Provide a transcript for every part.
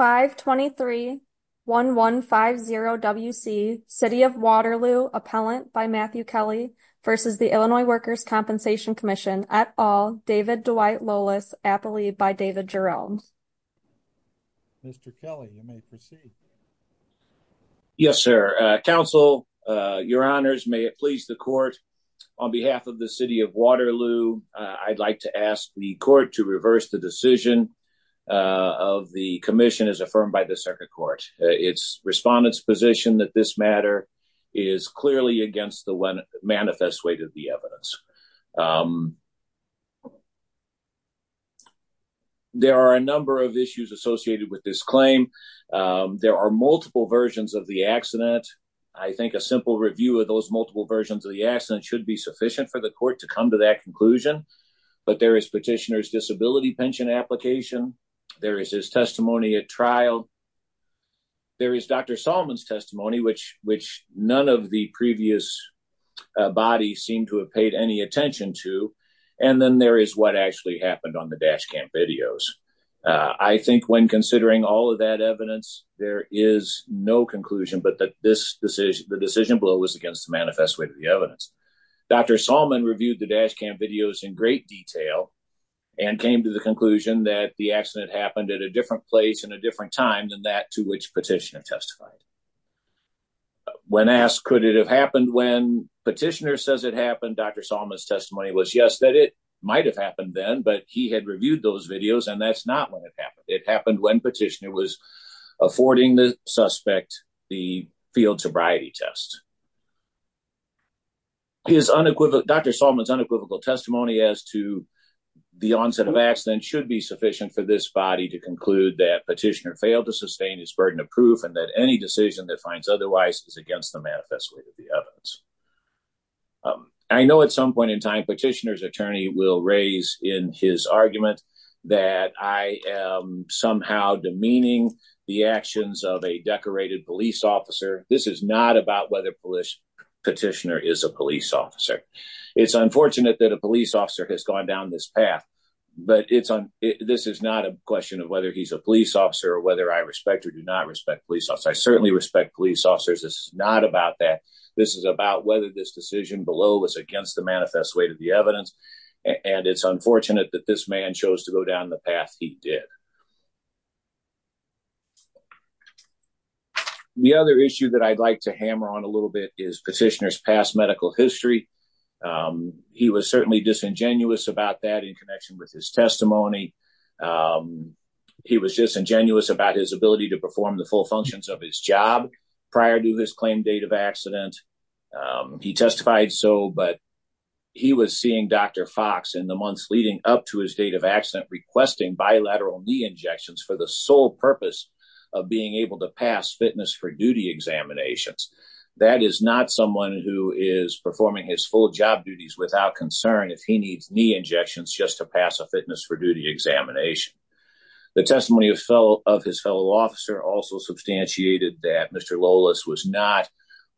523-1150-WC, City of Waterloo, Appellant by Matthew Kelly v. Illinois Workers' Compensation Comm'n, et al., David Dwight Lowless, Appellee by David Jerome. Mr. Kelly, you may proceed. Yes, sir. Council, your honors, may it please the court, on behalf of the City of Waterloo, I'd like to ask the court to reverse the decision of the commission as affirmed by the circuit court. It's respondent's position that this matter is clearly against the manifest weight of the evidence. There are a number of issues associated with this claim. There are multiple versions of the accident. I think a simple review of those multiple versions of the accident should be for the court to come to that conclusion. But there is petitioner's disability pension application. There is his testimony at trial. There is Dr. Solomon's testimony, which none of the previous bodies seem to have paid any attention to. And then there is what actually happened on the dash cam videos. I think when considering all of that evidence, there is no conclusion, but the decision below was against the manifest weight of the evidence. Dr. Solomon reviewed the dash cam videos in great detail and came to the conclusion that the accident happened at a different place and a different time than that to which petitioner testified. When asked could it have happened when petitioner says it happened, Dr. Solomon's testimony was yes, that it might have happened then, but he had reviewed those videos and that's not when it happened. It happened when petitioner was affording the suspect the field sobriety test. Dr. Solomon's unequivocal testimony as to the onset of accident should be sufficient for this body to conclude that petitioner failed to sustain his burden of proof and that any decision that finds otherwise is against the manifest weight of the evidence. I know at some point in time petitioner's attorney will raise in his argument that I am somehow demeaning the actions of a decorated police officer. This is not about whether petitioner is a police officer. It's unfortunate that a police officer has gone down this path, but this is not a question of whether he's a police officer or whether I respect or do not respect police officers. I certainly respect police officers. This is not about that. This is about whether this decision below was against the manifest weight of the evidence and it's unfortunate that this man chose to go down the path he did. The other issue that I'd like to hammer on a little bit is petitioner's past medical history. He was certainly disingenuous about that in connection with his testimony. He was disingenuous about his ability to perform the full functions of his job prior to his claimed date of accident. He testified so, but he was seeing Dr. Fox in the months leading up to his date of accident requesting bilateral knee injections for the sole purpose of being able to pass fitness for duty examinations. That is not someone who is performing his full job duties without concern if he needs knee injections just to pass a fitness for duty examination. The testimony of his fellow officer also substantiated that Mr. Lowless was not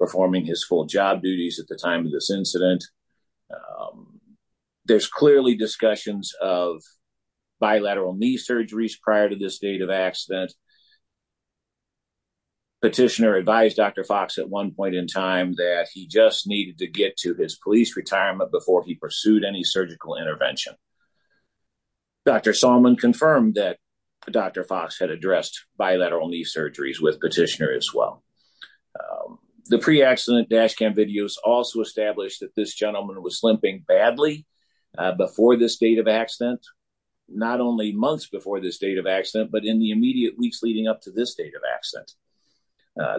performing his full job duties at the time of this incident. There's clearly discussions of bilateral knee surgeries prior to this date of accident. Petitioner advised Dr. Fox at one point in time that he just needed to get to his police retirement before he pursued any surgical intervention. Dr. Solomon confirmed that Dr. Fox had addressed bilateral knee surgeries with petitioner as well. The pre-accident dash cam videos also established that this gentleman was limping badly before this date of accident, not only months before this date of accident, but in the immediate weeks leading up to this date of accident.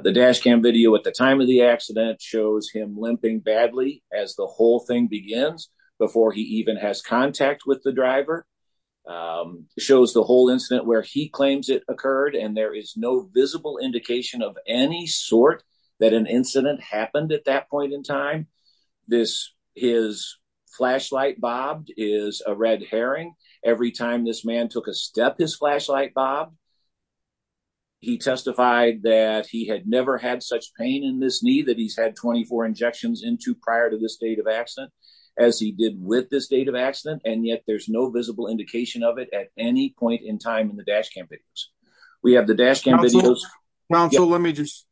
The dash cam video at the time of the accident shows him limping badly as the whole thing begins before he even has contact with the driver, shows the whole incident where he claims it occurred, and there is no visible indication of any sort that an incident happened at that point in time. His flashlight bobbed is a red herring. Every time this man took a step his flashlight bobbed, he testified that he had never had such pain in this knee that he's had 24 injections into prior to this date of accident as he did with this date of accident, and yet there's no visible indication of it at any point in time in the dash cam videos. We have the dash cam videos. Council, let me just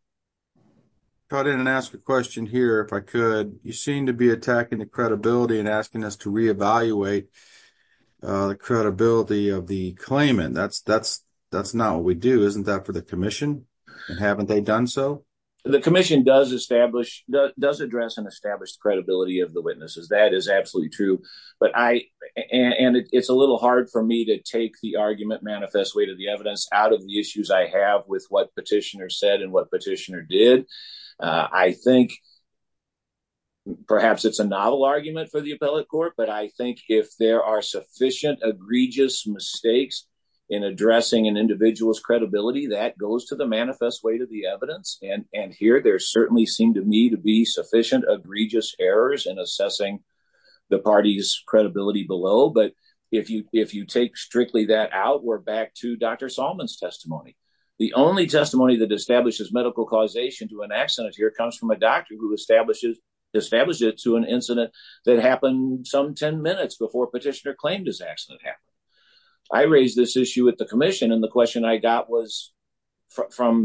cut in and ask a question here if I could. You seem to be attacking the credibility and asking us to reevaluate the credibility of the claimant. That's not what we do. Isn't that for the commission? Haven't they done so? The commission does establish, does address and establish the credibility of the witnesses. That is absolutely true, and it's a little hard for me to take the argument manifest way to the evidence out of the issues I have with what petitioner said and what petitioner did. I think perhaps it's a novel argument for the appellate court, but I think if there are sufficient egregious mistakes in addressing an individual's credibility, that goes to the manifest way to the evidence, and here there certainly seem to me to be sufficient egregious errors in assessing the party's credibility below, but if you take strictly that out, we're back to Dr. Solomon's testimony. The only testimony that establishes medical causation to an accident here comes from a doctor who established it to an incident that happened some 10 minutes before petitioner claimed his accident happened. I raised this issue with the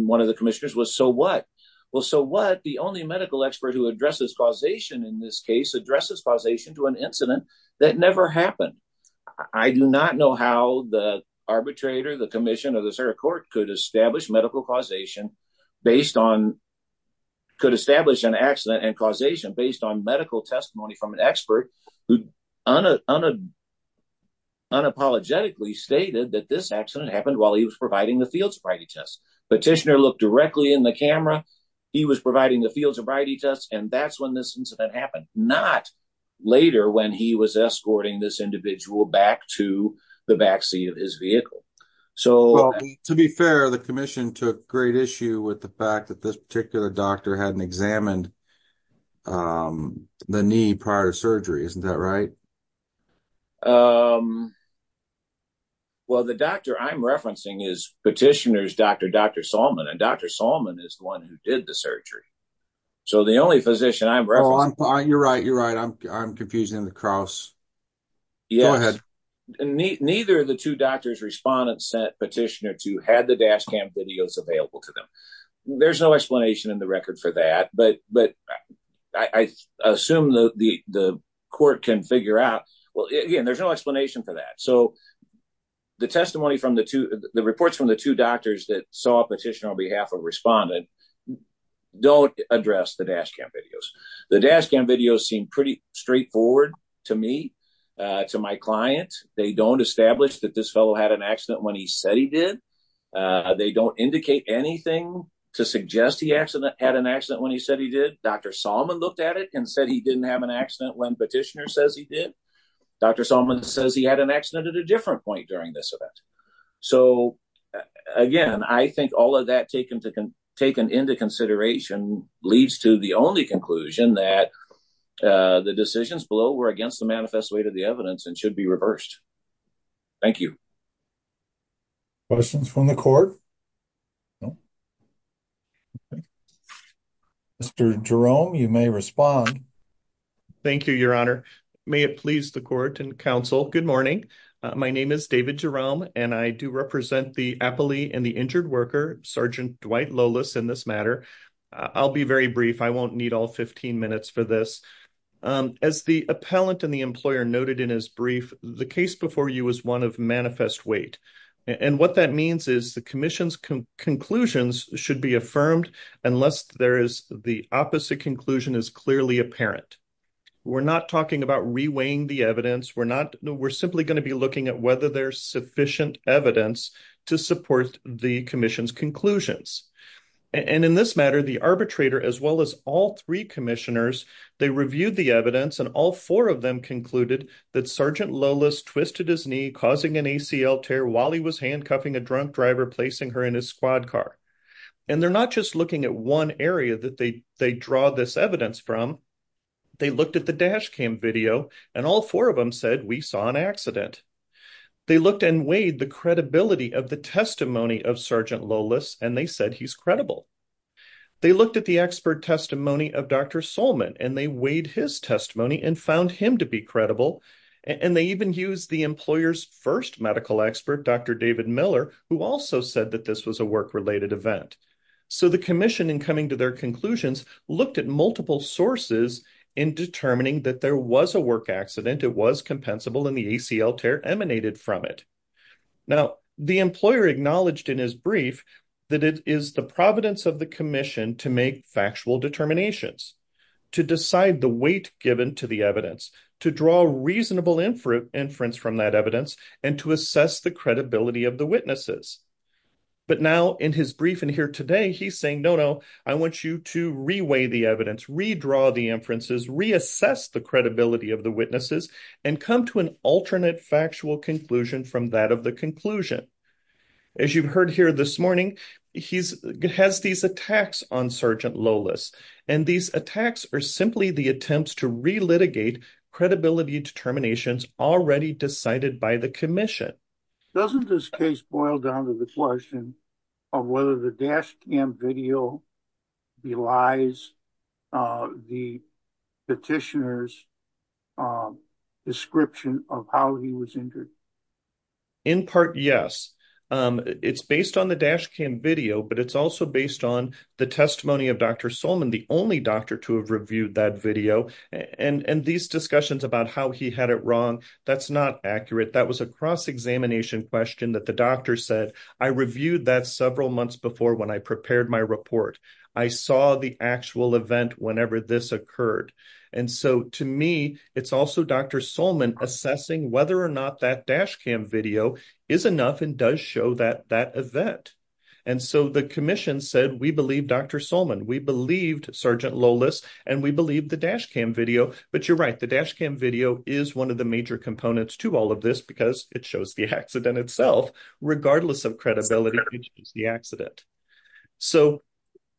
one of the commissioners was so what? Well, so what? The only medical expert who addresses causation in this case addresses causation to an incident that never happened. I do not know how the arbitrator, the commission or the court could establish medical causation based on, could establish an accident and causation based on medical testimony from an expert who unapologetically stated that this accident happened while he was providing the field variety tests. Petitioner looked directly in the camera. He was providing the fields of variety tests, and that's when this incident happened, not later when he was escorting this individual back to the back seat of his vehicle. So to be fair, the commission took great issue with the fact that this particular doctor hadn't examined the knee prior to surgery. Isn't that right? Um, well, the doctor I'm referencing is petitioners, Dr. Dr. Solomon, and Dr. Solomon is the one who did the surgery. So the only physician I'm right, you're right, you're right. I'm I'm confusing the cross. Yeah. And neither the two doctors respondents sent petitioner to had the dash cam videos available to them. There's no explanation in the record for that. But, but I assume the court can figure out. Well, again, there's no explanation for that. So the testimony from the two, the reports from the two doctors that saw a petition on behalf of respondent don't address the dash cam videos. The dash cam videos seem pretty straightforward to me, to my client. They don't establish that this fellow had an accident when he said he did. Uh, they don't indicate anything to suggest the accident had an accident when he said he did. Dr. Solomon looked at it and said he didn't have an accident when petitioner says he did. Dr. Solomon says he had an accident at a different point during this event. So again, I think all of that taken taken into consideration leads to the only conclusion that, uh, the decisions below were against the manifest way to the evidence and should be reversed. Thank you. Questions from the court. Mr. Jerome, you may respond. Thank you, your honor. May it please the court and counsel. Good morning. My name is David Jerome and I do represent the Appley and the injured worker, Sergeant Dwight Lowless in this matter. I'll be very brief. I won't need all 15 minutes for this. Um, as the appellant and the employer noted in his brief, the case before you is one of manifest weight. And what that means is the commission's conclusions should be affirmed unless there is the opposite conclusion is clearly apparent. We're not talking about reweighing the evidence. We're not, we're simply going to be looking at whether there's sufficient evidence to support the commission's conclusions. And in this matter, the arbitrator, as well as all three commissioners, they reviewed the evidence and all four of them concluded that Sergeant Lowless twisted his knee causing an ACL tear while he was handcuffing a drunk driver, placing her in his squad car. And they're not just looking at one area that they, they draw this evidence from. They looked at the dash cam video and all four of them said, we saw an accident. They looked and weighed the credibility of the testimony of Sergeant Lowless. And they said, he's credible. They looked at the expert testimony of Dr. Solman and they weighed his testimony and found him to be credible. And they even use the employer's first medical expert, Dr. David Miller, who also said that this was a work-related event. So the commission in coming to their conclusions looked at multiple sources in determining that there was a work accident. It was compensable and the ACL tear emanated from it. Now the employer acknowledged in his brief that it is the providence of the commission to make factual determinations, to decide the weight given to the evidence, to draw reasonable inference from that evidence and to assess the credibility of the witnesses. But now in his brief in here today, he's saying, no, no, I want you to reweigh the evidence, redraw the inferences, reassess the credibility of the witnesses and come to an alternate factual conclusion from that of the conclusion. As you've heard here this he's has these attacks on Sergeant Lowless and these attacks are simply the attempts to relitigate credibility determinations already decided by the commission. Doesn't this case boil down to the question of whether the dash cam video belies the petitioner's description of how he was injured? In part, yes. It's based on the dash cam video, but it's also based on the testimony of Dr. Solman, the only doctor to have reviewed that video and these discussions about how he had it wrong, that's not accurate. That was a cross-examination question that the doctor said, I reviewed that several months before when I prepared my report. I saw the actual event whenever this occurred. And so to me, it's also Dr. Solman assessing whether or not that dash cam video is enough and does show that event. And so the commission said, we believe Dr. Solman, we believed Sergeant Lowless and we believe the dash cam video, but you're right. The dash cam video is one of the major components to all of this because it shows the accident itself, regardless of credibility, it shows the accident. So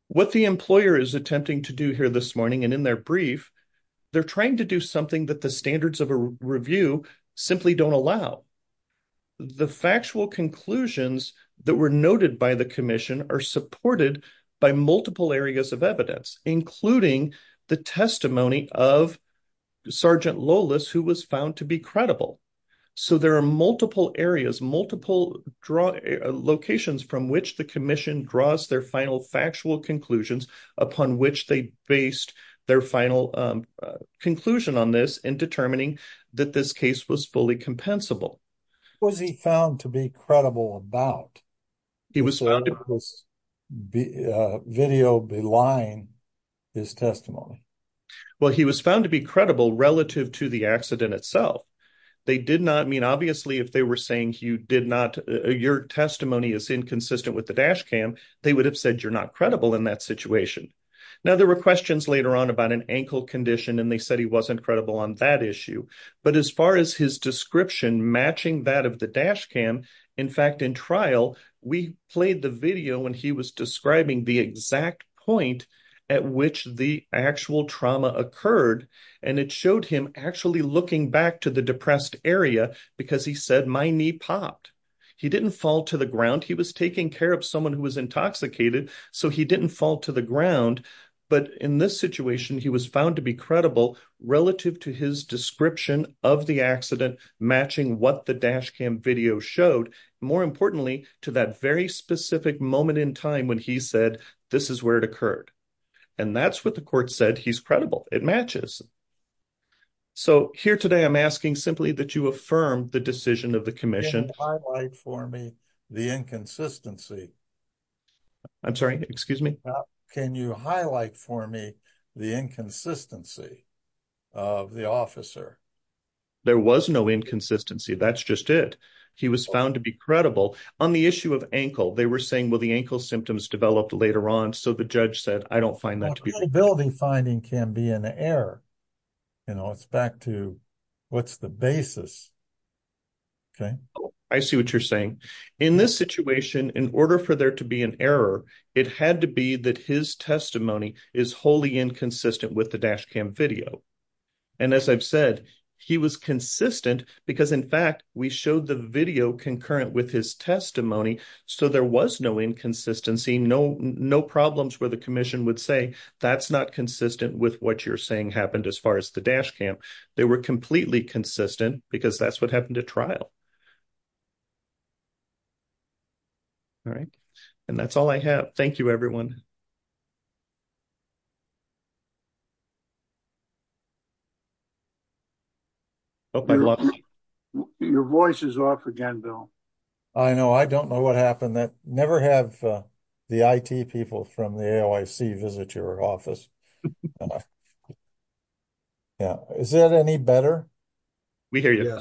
what the employer is attempting to do here this morning and in their brief, they're trying to do something that the standards of a review simply don't allow. The factual conclusions that were noted by the commission are supported by multiple areas of evidence, including the testimony of Sergeant Lowless, who was found to be credible. So there are multiple areas, multiple locations from which the commission draws their final factual conclusions upon which they based their final conclusion on this in determining that this case was fully compensable. Was he found to be credible about? He was found to be. Video belying his testimony. Well, he was found to be credible relative to the accident itself. They did not mean, obviously, if they were saying you did not, your testimony is inconsistent with the dash cam, they would have said you're not credible in that situation. Now there were questions later on about an ankle condition and they said he wasn't credible on that issue. But as far as his description matching that of the dash cam, in fact, in trial, we played the video when he was describing the exact point at which the actual trauma occurred and it showed him actually looking back to the depressed area because he said, my knee popped. He didn't fall to the ground. He was taking care of someone who was intoxicated, so he didn't fall to the ground. But in this situation, he was found to be credible relative to his description of the accident matching what the dash cam video showed. More importantly, to that very specific moment in time when he said this is where it occurred. And that's what the court said. He's credible. It matches. So here today, I'm asking simply that you affirm the decision of the commission. Can you highlight for me the inconsistency? I'm sorry, excuse me? Can you highlight for me the inconsistency of the officer? There was no inconsistency. That's just it. He was found to be credible. On the issue of ankle, they were saying, well, the ankle symptoms developed later on. So the judge said, I don't find that credibility finding can be an error. You know, it's back to what's the basis. OK, I see what you're saying in this situation. In order for there to be an error, it had to be that his testimony is wholly inconsistent with the dash cam video. And as I've said, he was consistent because, in fact, we showed the video concurrent with his testimony. So there was no inconsistency, no problems where the commission would say that's not consistent with what you're saying happened as far as the dash cam. They were completely consistent because that's what happened to trial. All right. And that's all I have. Thank you, everyone. Your voice is off again, Bill. I know. I don't know what happened. Never have the IT people from the AIC visit your office. Yeah. Is that any better? We hear you.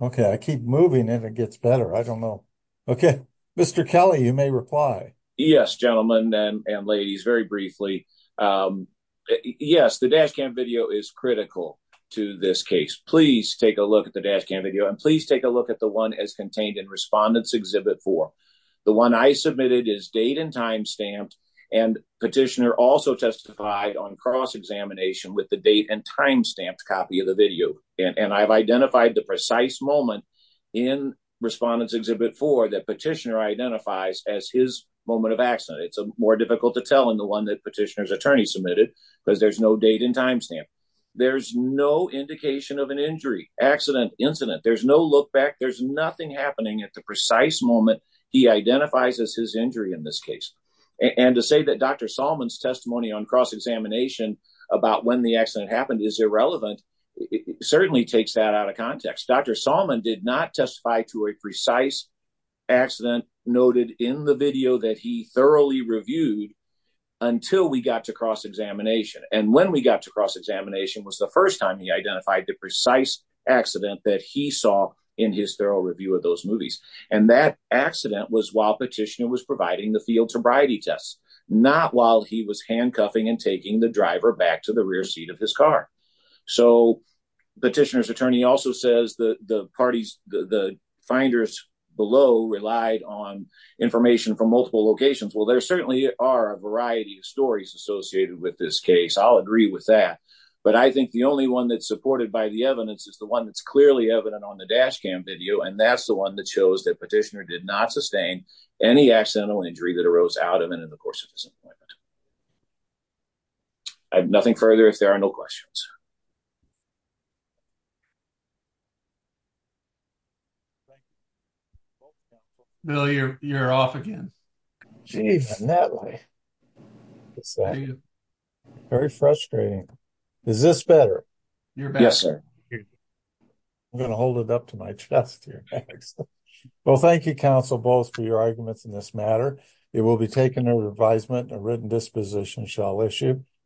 OK, I keep moving and it gets better. I don't know. OK, Mr. Kelly, you may reply. Yes, gentlemen and ladies, very briefly. Yes, the dash cam video is critical to this case. Please take a look at the dash cam video and please take a look at the one as contained in respondent's exhibit for the one I submitted is date and time stamped. And petitioner also testified on cross-examination with the date and time stamped copy of the video. And I've identified the precise moment in respondents exhibit for that petitioner identifies as his moment of accident. It's more difficult to tell in the one that petitioner's attorney submitted because there's no date and time stamp. There's no indication of an injury, accident, incident. There's no look back. There's nothing happening at the precise moment. He identifies as his in this case. And to say that Dr. Solomon's testimony on cross-examination about when the accident happened is irrelevant. It certainly takes that out of context. Dr. Solomon did not testify to a precise accident noted in the video that he thoroughly reviewed until we got to cross-examination. And when we got to cross-examination was the first time he identified the precise accident that he saw in his thorough review of those movies. And that accident was while petitioner was providing the field sobriety tests, not while he was handcuffing and taking the driver back to the rear seat of his car. So petitioner's attorney also says the parties, the finders below relied on information from multiple locations. Well, there certainly are a variety of stories associated with this case. I'll agree with that. But I think the only one that's supported by the evidence is the one that's clearly evident on the dash cam video. And that's the one that shows that petitioner did not sustain any accidental injury that arose out of it in the course of his employment. I have nothing further if there are no questions. Bill, you're off again. Chief, I'm that way. Excellent. Well, thank you, counsel, both for your arguments in this matter. It will be taken under advisement and written disposition shall issue.